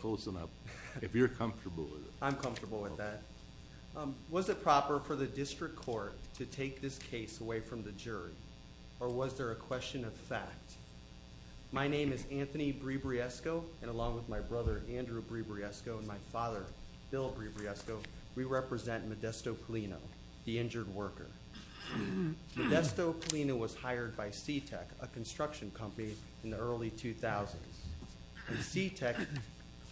Closing up if you're comfortable. I'm comfortable with that. Was it proper for the district court to take this case away from the jury or was there a question of fact? My name is Anthony Bribriesco and along with my brother Andrew Bribriesco and my father Bill Bribriesco, we represent Modesto Paulino, the injured worker. Modesto Paulino was hired by Sea-Tech, a construction company in the early 2000s. Sea-Tech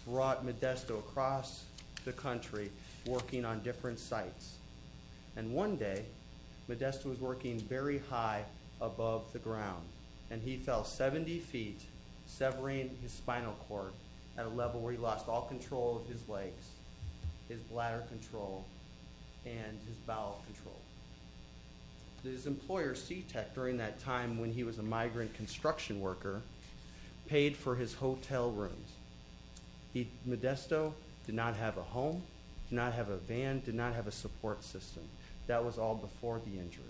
brought Modesto across the country working on different sites and one day Modesto was working very high above the ground and he fell 70 feet severing his spinal cord at a level where he lost all control of his legs, his bladder control, and his bowel control. His employer Sea-Tech during that time when he was a migrant construction worker paid for his hotel rooms. Modesto did not have a home, did not have a van, did not have a support system. That was all before the injury.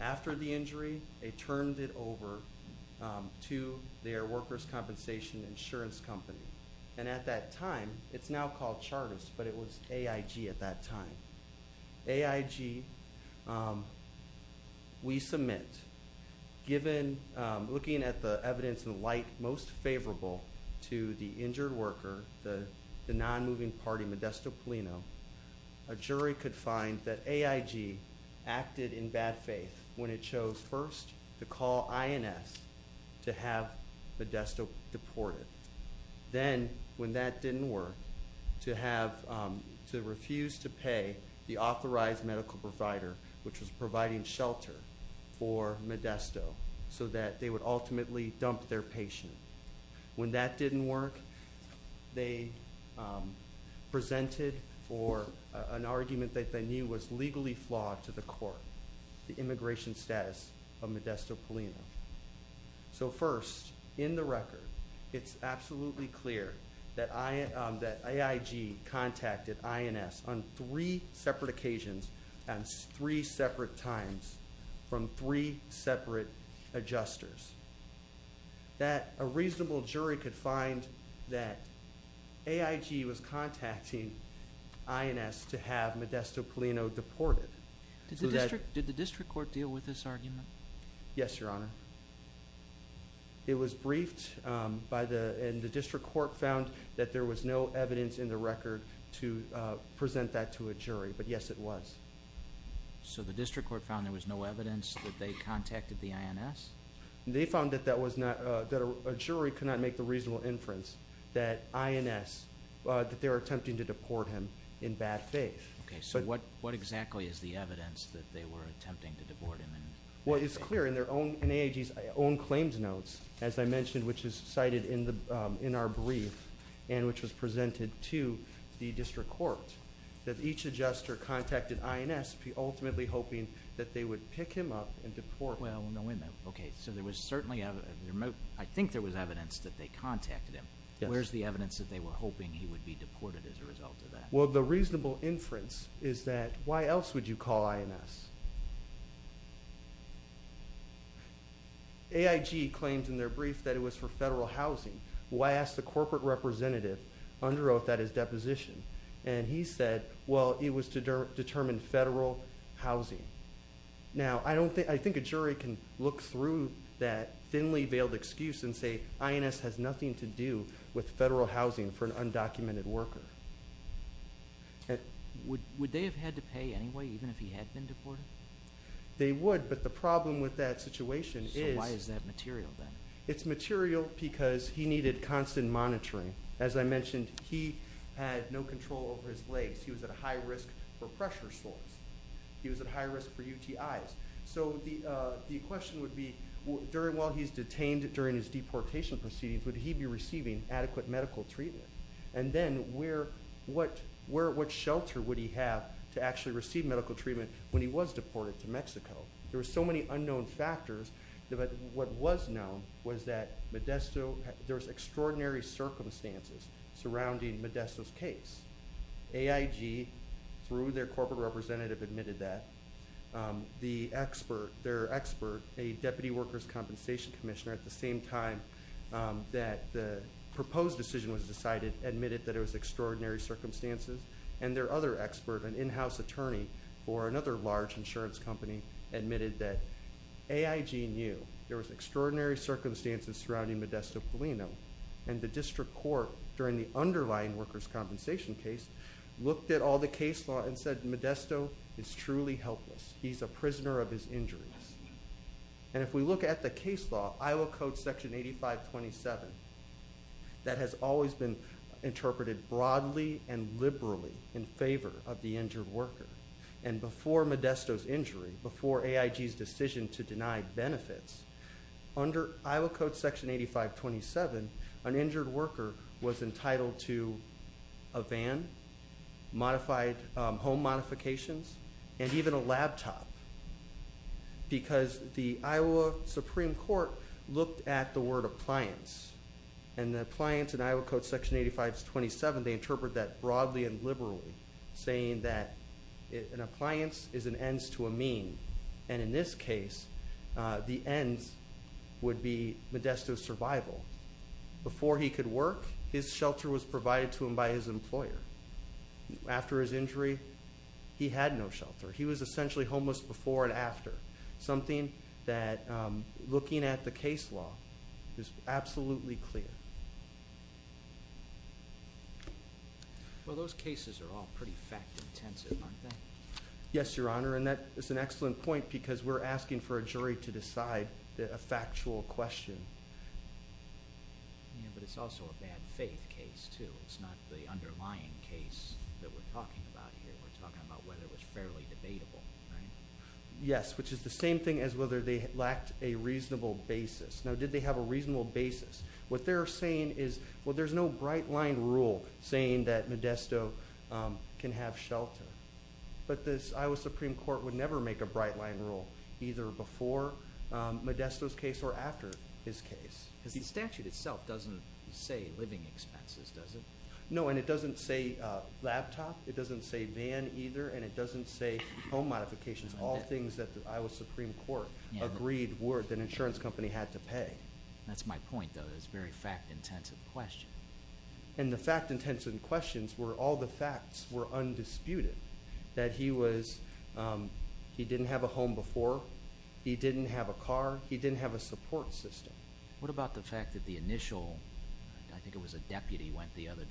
After the injury, they turned it over to their workers compensation insurance company and at that time, it's now called Charters, but it was AIG at that time. AIG, we submit, given looking at the evidence and light most favorable to the injured worker, the non-moving party Modesto Paulino, a jury could find that AIG acted in bad faith when it chose first to call INS to have Modesto deported. Then when that didn't work, to have to refuse to pay the authorized medical provider which was providing shelter for Modesto so that they would ultimately dump their patient. When that didn't work, they presented for an argument that they knew was legally flawed to the court, the immigration status of Modesto Paulino. So first, in the record, it's absolutely clear that AIG contacted INS on three separate occasions and three separate times from three separate adjusters. That a reasonable jury could find that AIG was contacting INS to have Modesto Paulino deported. Did the district court deal with this argument? Yes, Your Honor. It was briefed by the, and the district court found that there was no evidence in the record to present that to a jury, but yes it was. So the district court found there was no evidence that they contacted the INS? They found that that was not, that a jury could not make the reasonable inference that INS, that they were attempting to deport him in bad faith. Okay, so what what exactly is the evidence that they were attempting to deport him? Well, it's clear in their own, in AIG's own claims notes, as I mentioned, which is cited in the, in our brief, and which was presented to the district court, that each adjuster contacted INS, ultimately hoping that they would pick him up and deport him. Okay, so there was certainly evidence, I think there was evidence that they contacted him. Where's the evidence that they were hoping he would be deported as a result of that? Well, the reasonable inference is that why else would you call INS? AIG claims in their brief that it was for federal housing. Well, I asked the corporate representative under oath at his deposition, and he said, well, it was to determine federal housing. Now, I don't think, I think a jury can look through that thinly veiled excuse and say INS has nothing to do with federal anyway, even if he had been deported? They would, but the problem with that situation is... So why is that material then? It's material because he needed constant monitoring. As I mentioned, he had no control over his legs. He was at a high risk for pressure sores. He was at high risk for UTIs. So the question would be, during, while he's detained, during his deportation proceedings, would he be receiving adequate medical treatment? And then, where, what, where, what shelter would he have to actually receive medical treatment when he was deported to Mexico? There were so many unknown factors, but what was known was that Modesto, there was extraordinary circumstances surrounding Modesto's case. AIG, through their corporate representative, admitted that. The expert, their expert, a Deputy Workers' Compensation Commissioner, at the same time that the proposed decision was decided, admitted that it was their expert, an in-house attorney for another large insurance company, admitted that AIG knew there was extraordinary circumstances surrounding Modesto Polino, and the district court, during the underlying workers' compensation case, looked at all the case law and said, Modesto is truly helpless. He's a prisoner of his injuries. And if we look at the case law, Iowa Code Section 8527, that has always been interpreted broadly and liberally in favor of the injured worker. And before Modesto's injury, before AIG's decision to deny benefits, under Iowa Code Section 8527, an injured worker was entitled to a van, modified home modifications, and even a laptop. Because the Iowa Supreme Court looked at the word appliance, and the appliance in Iowa Code Section 8527, they interpret that broadly and liberally, saying that an appliance is an ends to a mean. And in this case, the ends would be Modesto's survival. Before he could work, his shelter was provided to him by his employer. After his injury, he had no shelter. He was essentially homeless before and after. Something that, looking at the case law, is absolutely clear. Well, those cases are all pretty fact-intensive, aren't they? Yes, Your Honor, and that is an excellent point, because we're asking for a jury to decide a factual question. Yeah, but it's also a bad faith case, too. It's not the underlying case that we're talking about here. We're talking about whether it was fairly debatable, right? Yes, which is the same thing as whether they lacked a reasonable basis. Now, did they have a reasonable basis? What they're saying is, well, there's no bright-line rule saying that Modesto can have shelter. But the Iowa Supreme Court would never make a bright-line rule, either before Modesto's case or after his case. Because the statute itself doesn't say living expenses, does it? No, and it doesn't say laptop, it doesn't say van, either, and it doesn't say home modifications. All things that the Iowa Supreme Court agreed were that an insurance company had to pay. That's my point, though. It's a very fact-intensive question. And the fact-intensive questions were all the facts were undisputed. That he was, he didn't have a home before, he didn't have a car, he didn't have a support system. What about the fact that the initial, I think it was a deputy, went the other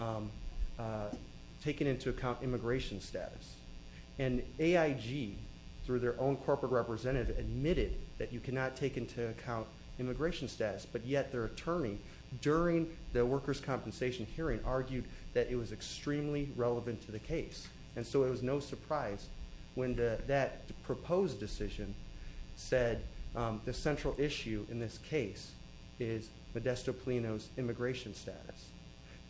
way, taking into account immigration status. And AIG, through their own corporate representative, admitted that you cannot take into account immigration status, but yet their attorney, during the workers' compensation hearing, argued that it was extremely relevant to the case. And so it was no surprise when that proposed decision said the central issue in this case is Modesto Plino's immigration status.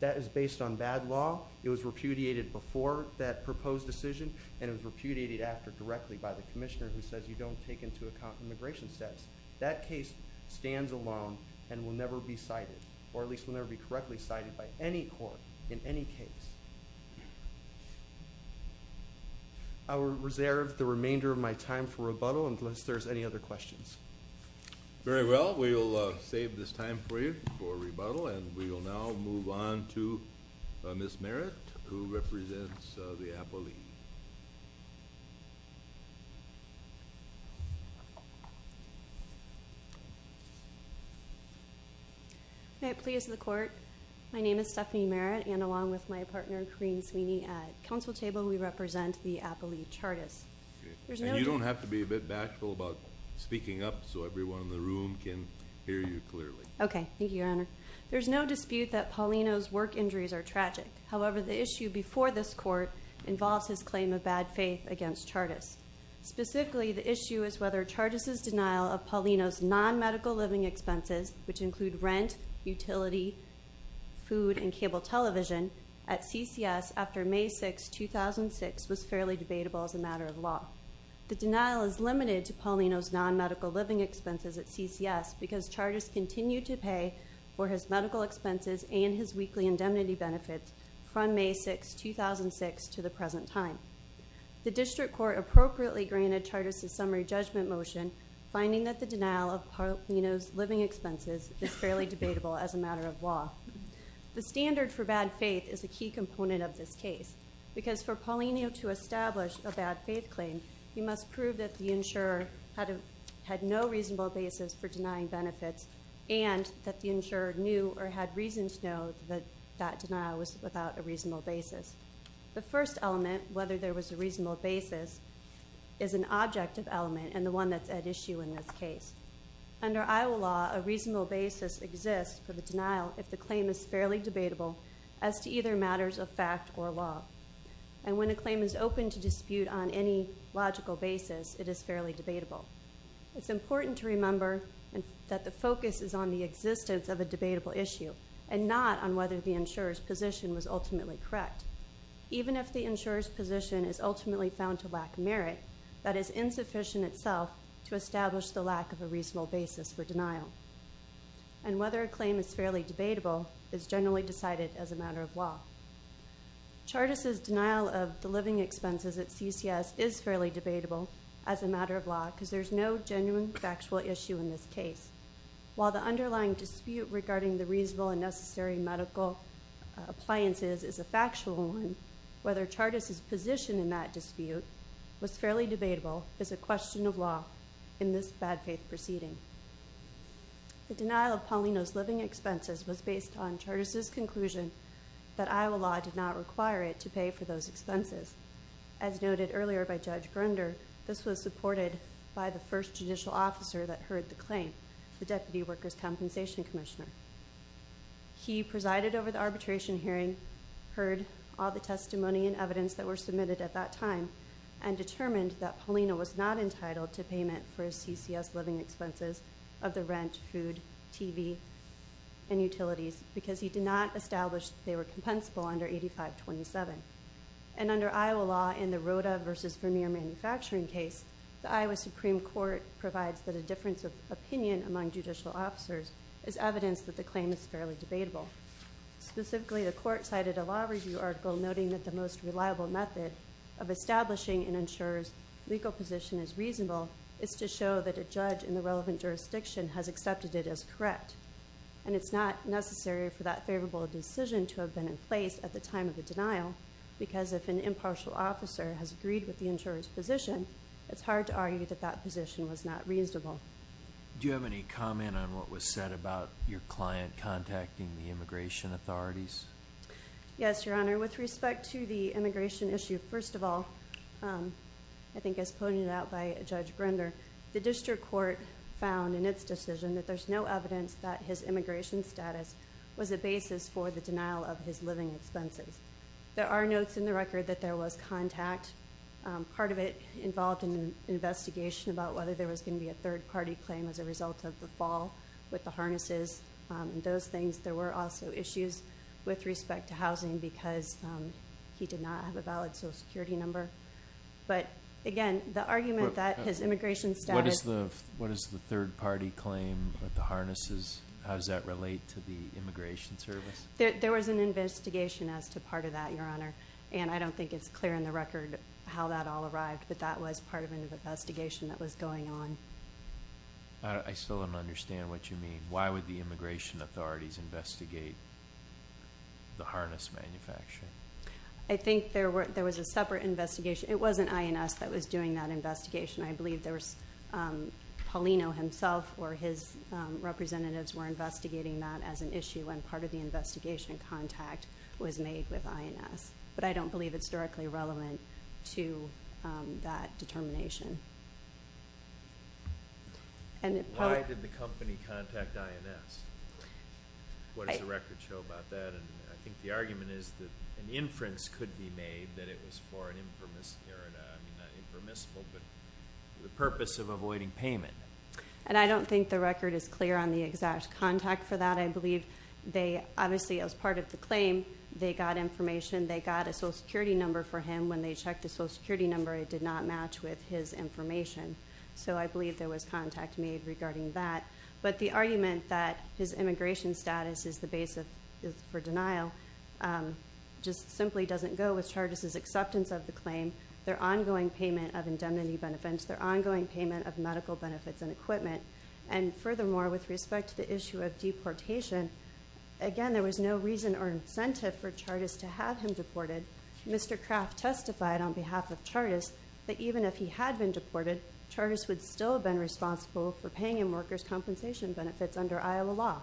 That is based on bad law, it was repudiated before that proposed decision, and it was repudiated after, directly, by the commissioner who says you don't take into account immigration status. That case stands alone and will never be cited, or at least will never be correctly cited by any court in any case. I will reserve the remainder of my time for rebuttal unless there's any other questions. Very well, we will save this time for you for rebuttal, and we will now move on to Ms. Merritt, who represents the Appalachee. May it please the court, my name is Stephanie Merritt, and along with my partner, Corinne Sweeney, at council table, we represent the Appalachee so everyone in the room can hear you clearly. Okay, thank you, Your Honor. There's no dispute that Paulino's work injuries are tragic. However, the issue before this court involves his claim of bad faith against Chartus. Specifically, the issue is whether Chartus's denial of Paulino's non-medical living expenses, which include rent, utility, food, and cable television, at CCS after May 6, 2006, was fairly debatable as a matter of law. The standard for bad faith is a key component of this case, because for Paulino to have no reasonable basis for denying benefits, and that the insurer knew or had reason to know that that denial was without a reasonable basis. The first element, whether there was a reasonable basis, is an objective element, and the one that's at issue in this case. Under Iowa law, a reasonable basis exists for the denial if the claim is fairly debatable as to either matters of fact or law. And when a claim is open to dispute on any logical basis, it is fairly debatable. It's important to remember that the focus is on the existence of a debatable issue, and not on whether the insurer's position was ultimately correct. Even if the insurer's position is ultimately found to lack merit, that is insufficient itself to establish the lack of a reasonable basis for denial. And whether a claim is fairly debatable is generally decided as a matter of law. Chartus's denial of the living expenses at CCS is fairly debatable as a matter of law, because there's no genuine factual issue in this case. While the underlying dispute regarding the reasonable and necessary medical appliances is a factual one, whether Chartus's position in that dispute was fairly debatable is a question of law in this bad-faith proceeding. The denial of Paulino's living expenses was based on Chartus's conclusion that Iowa law did not require it to pay for those expenses. As noted earlier by Judge Grunder, this was supported by the first judicial officer that heard the claim, the Deputy Workers' Compensation Commissioner. He presided over the arbitration hearing, heard all the testimony and evidence that were submitted at that time, and determined that Paulino was not entitled to payment for his CCS living expenses of the rent, food, TV, and utilities, because he did not establish they were compensable under 8527. And under Iowa law, in the case, the Iowa Supreme Court provides that a difference of opinion among judicial officers is evidence that the claim is fairly debatable. Specifically, the court cited a law review article noting that the most reliable method of establishing an insurer's legal position as reasonable is to show that a judge in the relevant jurisdiction has accepted it as correct. And it's not necessary for that favorable decision to have been in place at the time of the denial, because if an impartial officer has agreed with the insurer's position, it's hard to argue that that position was not reasonable. Do you have any comment on what was said about your client contacting the immigration authorities? Yes, Your Honor. With respect to the immigration issue, first of all, I think as pointed out by Judge Grunder, the district court found in its decision that there's no evidence that his immigration status was a basis for the denial of his living expenses. There are notes in the record that there was contact. Part of it involved an investigation about whether there was gonna be a third party claim as a result of the fall with the harnesses and those things. There were also issues with respect to housing because he did not have a valid social security number. But again, the argument that his immigration status... What is the third party claim with the harnesses? How does that relate to the immigration service? There was an investigation as to part of that, Your Honor. And I don't think it's clear in the record how that all arrived, but that was part of an investigation that was going on. I still don't understand what you mean. Why would the immigration authorities investigate the harness manufacturing? I think there was a separate investigation. It wasn't INS that was doing that investigation. I believe there was Paulino himself or his representatives were investigating that as an issue when part of the investigation contact was made with INS. But I don't believe it's directly relevant to that determination. And... Why did the company contact INS? What does the record show about that? And I think the argument is that an inference could be made that it was for an impermissible... I mean, not impermissible, but the purpose of avoiding payment. And I don't think the record is clear on the contact for that. I believe they... Obviously, as part of the claim, they got information, they got a social security number for him. When they checked the social security number, it did not match with his information. So I believe there was contact made regarding that. But the argument that his immigration status is the base for denial just simply doesn't go with Chargis' acceptance of the claim, their ongoing payment of indemnity benefits, their ongoing payment of medical benefits and equipment. And furthermore, with respect to the issue of deportation, again, there was no reason or incentive for Chargis to have him deported. Mr. Kraft testified on behalf of Chargis that even if he had been deported, Chargis would still have been responsible for paying him workers compensation benefits under Iowa law.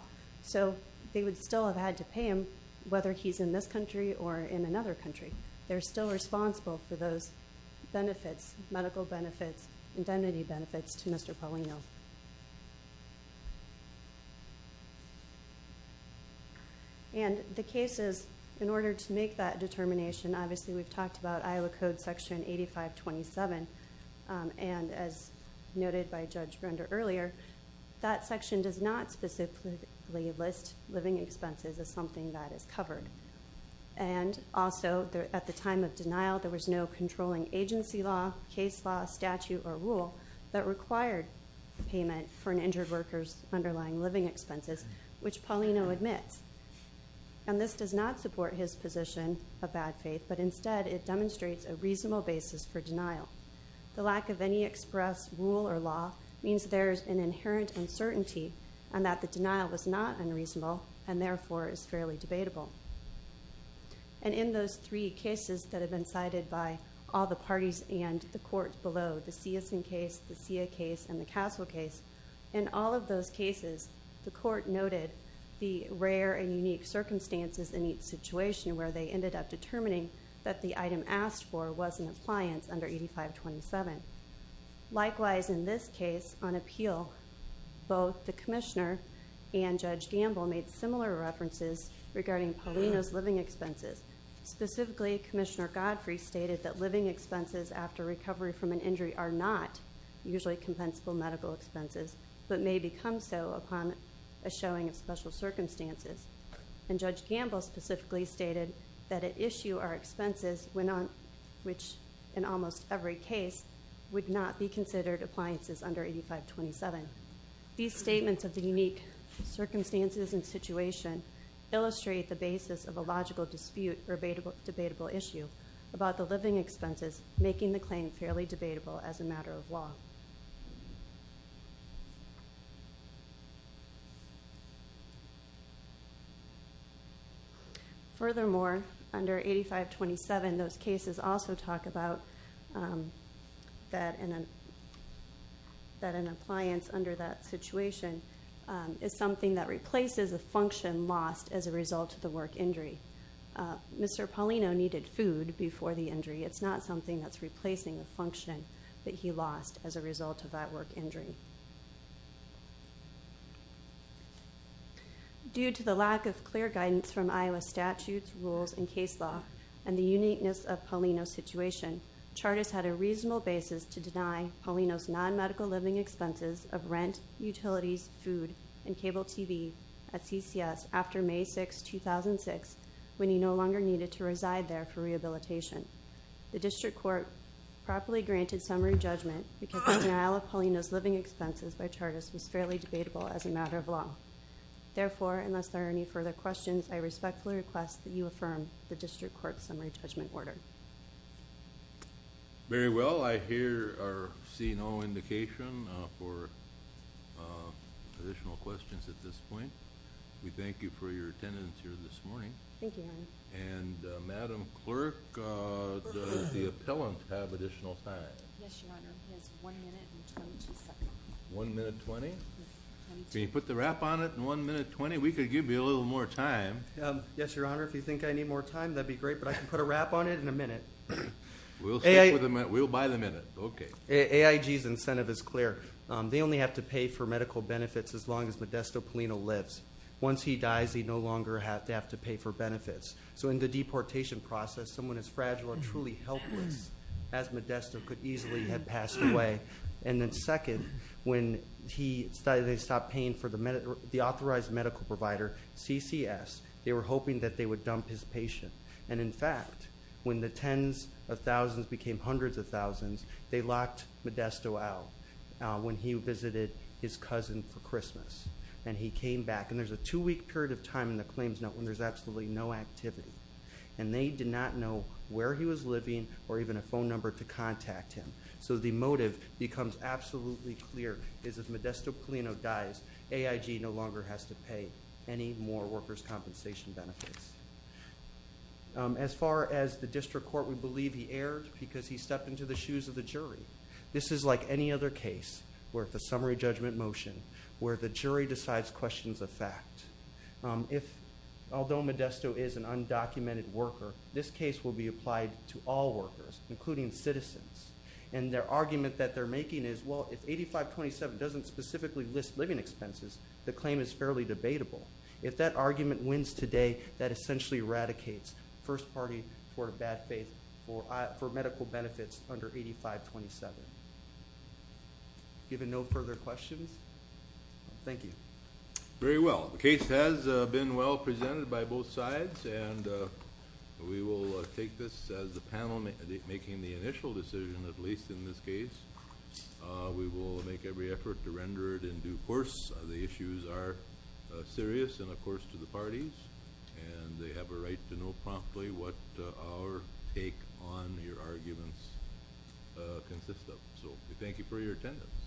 So they would still have had to pay him whether he's in this country or in another country. They're still responsible for those benefits, medical benefits, indemnity benefits to Mr. Paulino. And the cases, in order to make that determination, obviously, we've talked about Iowa Code Section 8527. And as noted by Judge Render earlier, that section does not specifically list living expenses as something that is covered. And also, at the time of denial, there was no payment for an injured worker's underlying living expenses, which Paulino admits. And this does not support his position of bad faith, but instead, it demonstrates a reasonable basis for denial. The lack of any express rule or law means there's an inherent uncertainty and that the denial is not unreasonable and therefore is fairly debatable. And in those three cases that have been cited by all the parties and the court below, the Siason case, the Sia case, and the Castle case, in all of those cases, the court noted the rare and unique circumstances in each situation where they ended up determining that the item asked for was in appliance under 8527. Likewise, in this case, on appeal, both the Commissioner and Judge Gamble made similar references regarding Paulino's living expenses. Specifically, Commissioner Godfrey stated that living expenses for recovery from an injury are not usually compensable medical expenses, but may become so upon a showing of special circumstances. And Judge Gamble specifically stated that at issue are expenses which, in almost every case, would not be considered appliances under 8527. These statements of the unique circumstances and situation illustrate the basis of a logical dispute or fairly debatable as a matter of law. Furthermore, under 8527, those cases also talk about that an appliance under that situation is something that replaces a function lost as a result of the work injury. Mr. Paulino needed food before the injury. It's not something that's replacing the function that he lost as a result of that work injury. Due to the lack of clear guidance from Iowa statutes, rules, and case law, and the uniqueness of Paulino's situation, Charters had a reasonable basis to deny Paulino's non-medical living expenses of rent, utilities, food, and cable TV at CCS after May 6, 2006, when he no longer needed to reside there for rehabilitation. The District Court properly granted summary judgment because the denial of Paulino's living expenses by Charters was fairly debatable as a matter of law. Therefore, unless there are any further questions, I respectfully request that you affirm the District Court's summary judgment order. Very well. I hear or see no indication for additional questions at this point. We thank you for your attendance here this morning. Thank you, Your Honor. And Madam Clerk, does the appellant have additional time? Yes, Your Honor. He has one minute and 22 seconds. One minute and 20? Can you put the wrap on it in one minute and 20? We could give you a little more time. Yes, Your Honor. If you think I need more time, that'd be great, but I can put a wrap on it in a minute. We'll buy the minute. Okay. AIG's incentive is clear. They only have to pay for medical benefits as long as Modesto Paulino lives. Once he dies, he no longer have to have to pay for benefits. So in the deportation process, someone as fragile and truly helpless as Modesto could easily have passed away. And then second, when they stopped paying for the authorized medical provider, CCS, they were hoping that they would dump his patient. And in fact, when the tens of thousands became hundreds of thousands, they locked Modesto out when he visited his cousin for Christmas. And he came back. And there's a two week period of time in the claims note when there's absolutely no activity. And they did not know where he was living or even a phone number to contact him. So the motive becomes absolutely clear, is if Modesto Paulino dies, AIG no longer has to pay any more workers' compensation benefits. As far as the district court, we believe he erred because he stepped into the shoes of the jury. This is like any other case where the summary judgment motion, where the jury decides questions of fact. Although Modesto is an undocumented worker, this case will be applied to all workers, including citizens. And their argument that they're making is, well, if 8527 doesn't specifically list living expenses, the claim is fairly debatable. If that argument wins today, that essentially eradicates first party for a bad faith for medical benefits under 8527. Given no further questions, thank you. Very well. The case has been well presented by both sides. And we will take this as the panel making the initial decision, at least in this case. We will make every effort to render it due course. The issues are serious and, of course, to the parties. And they have a right to know promptly what our take on your arguments consist of. So we thank you for your attendance.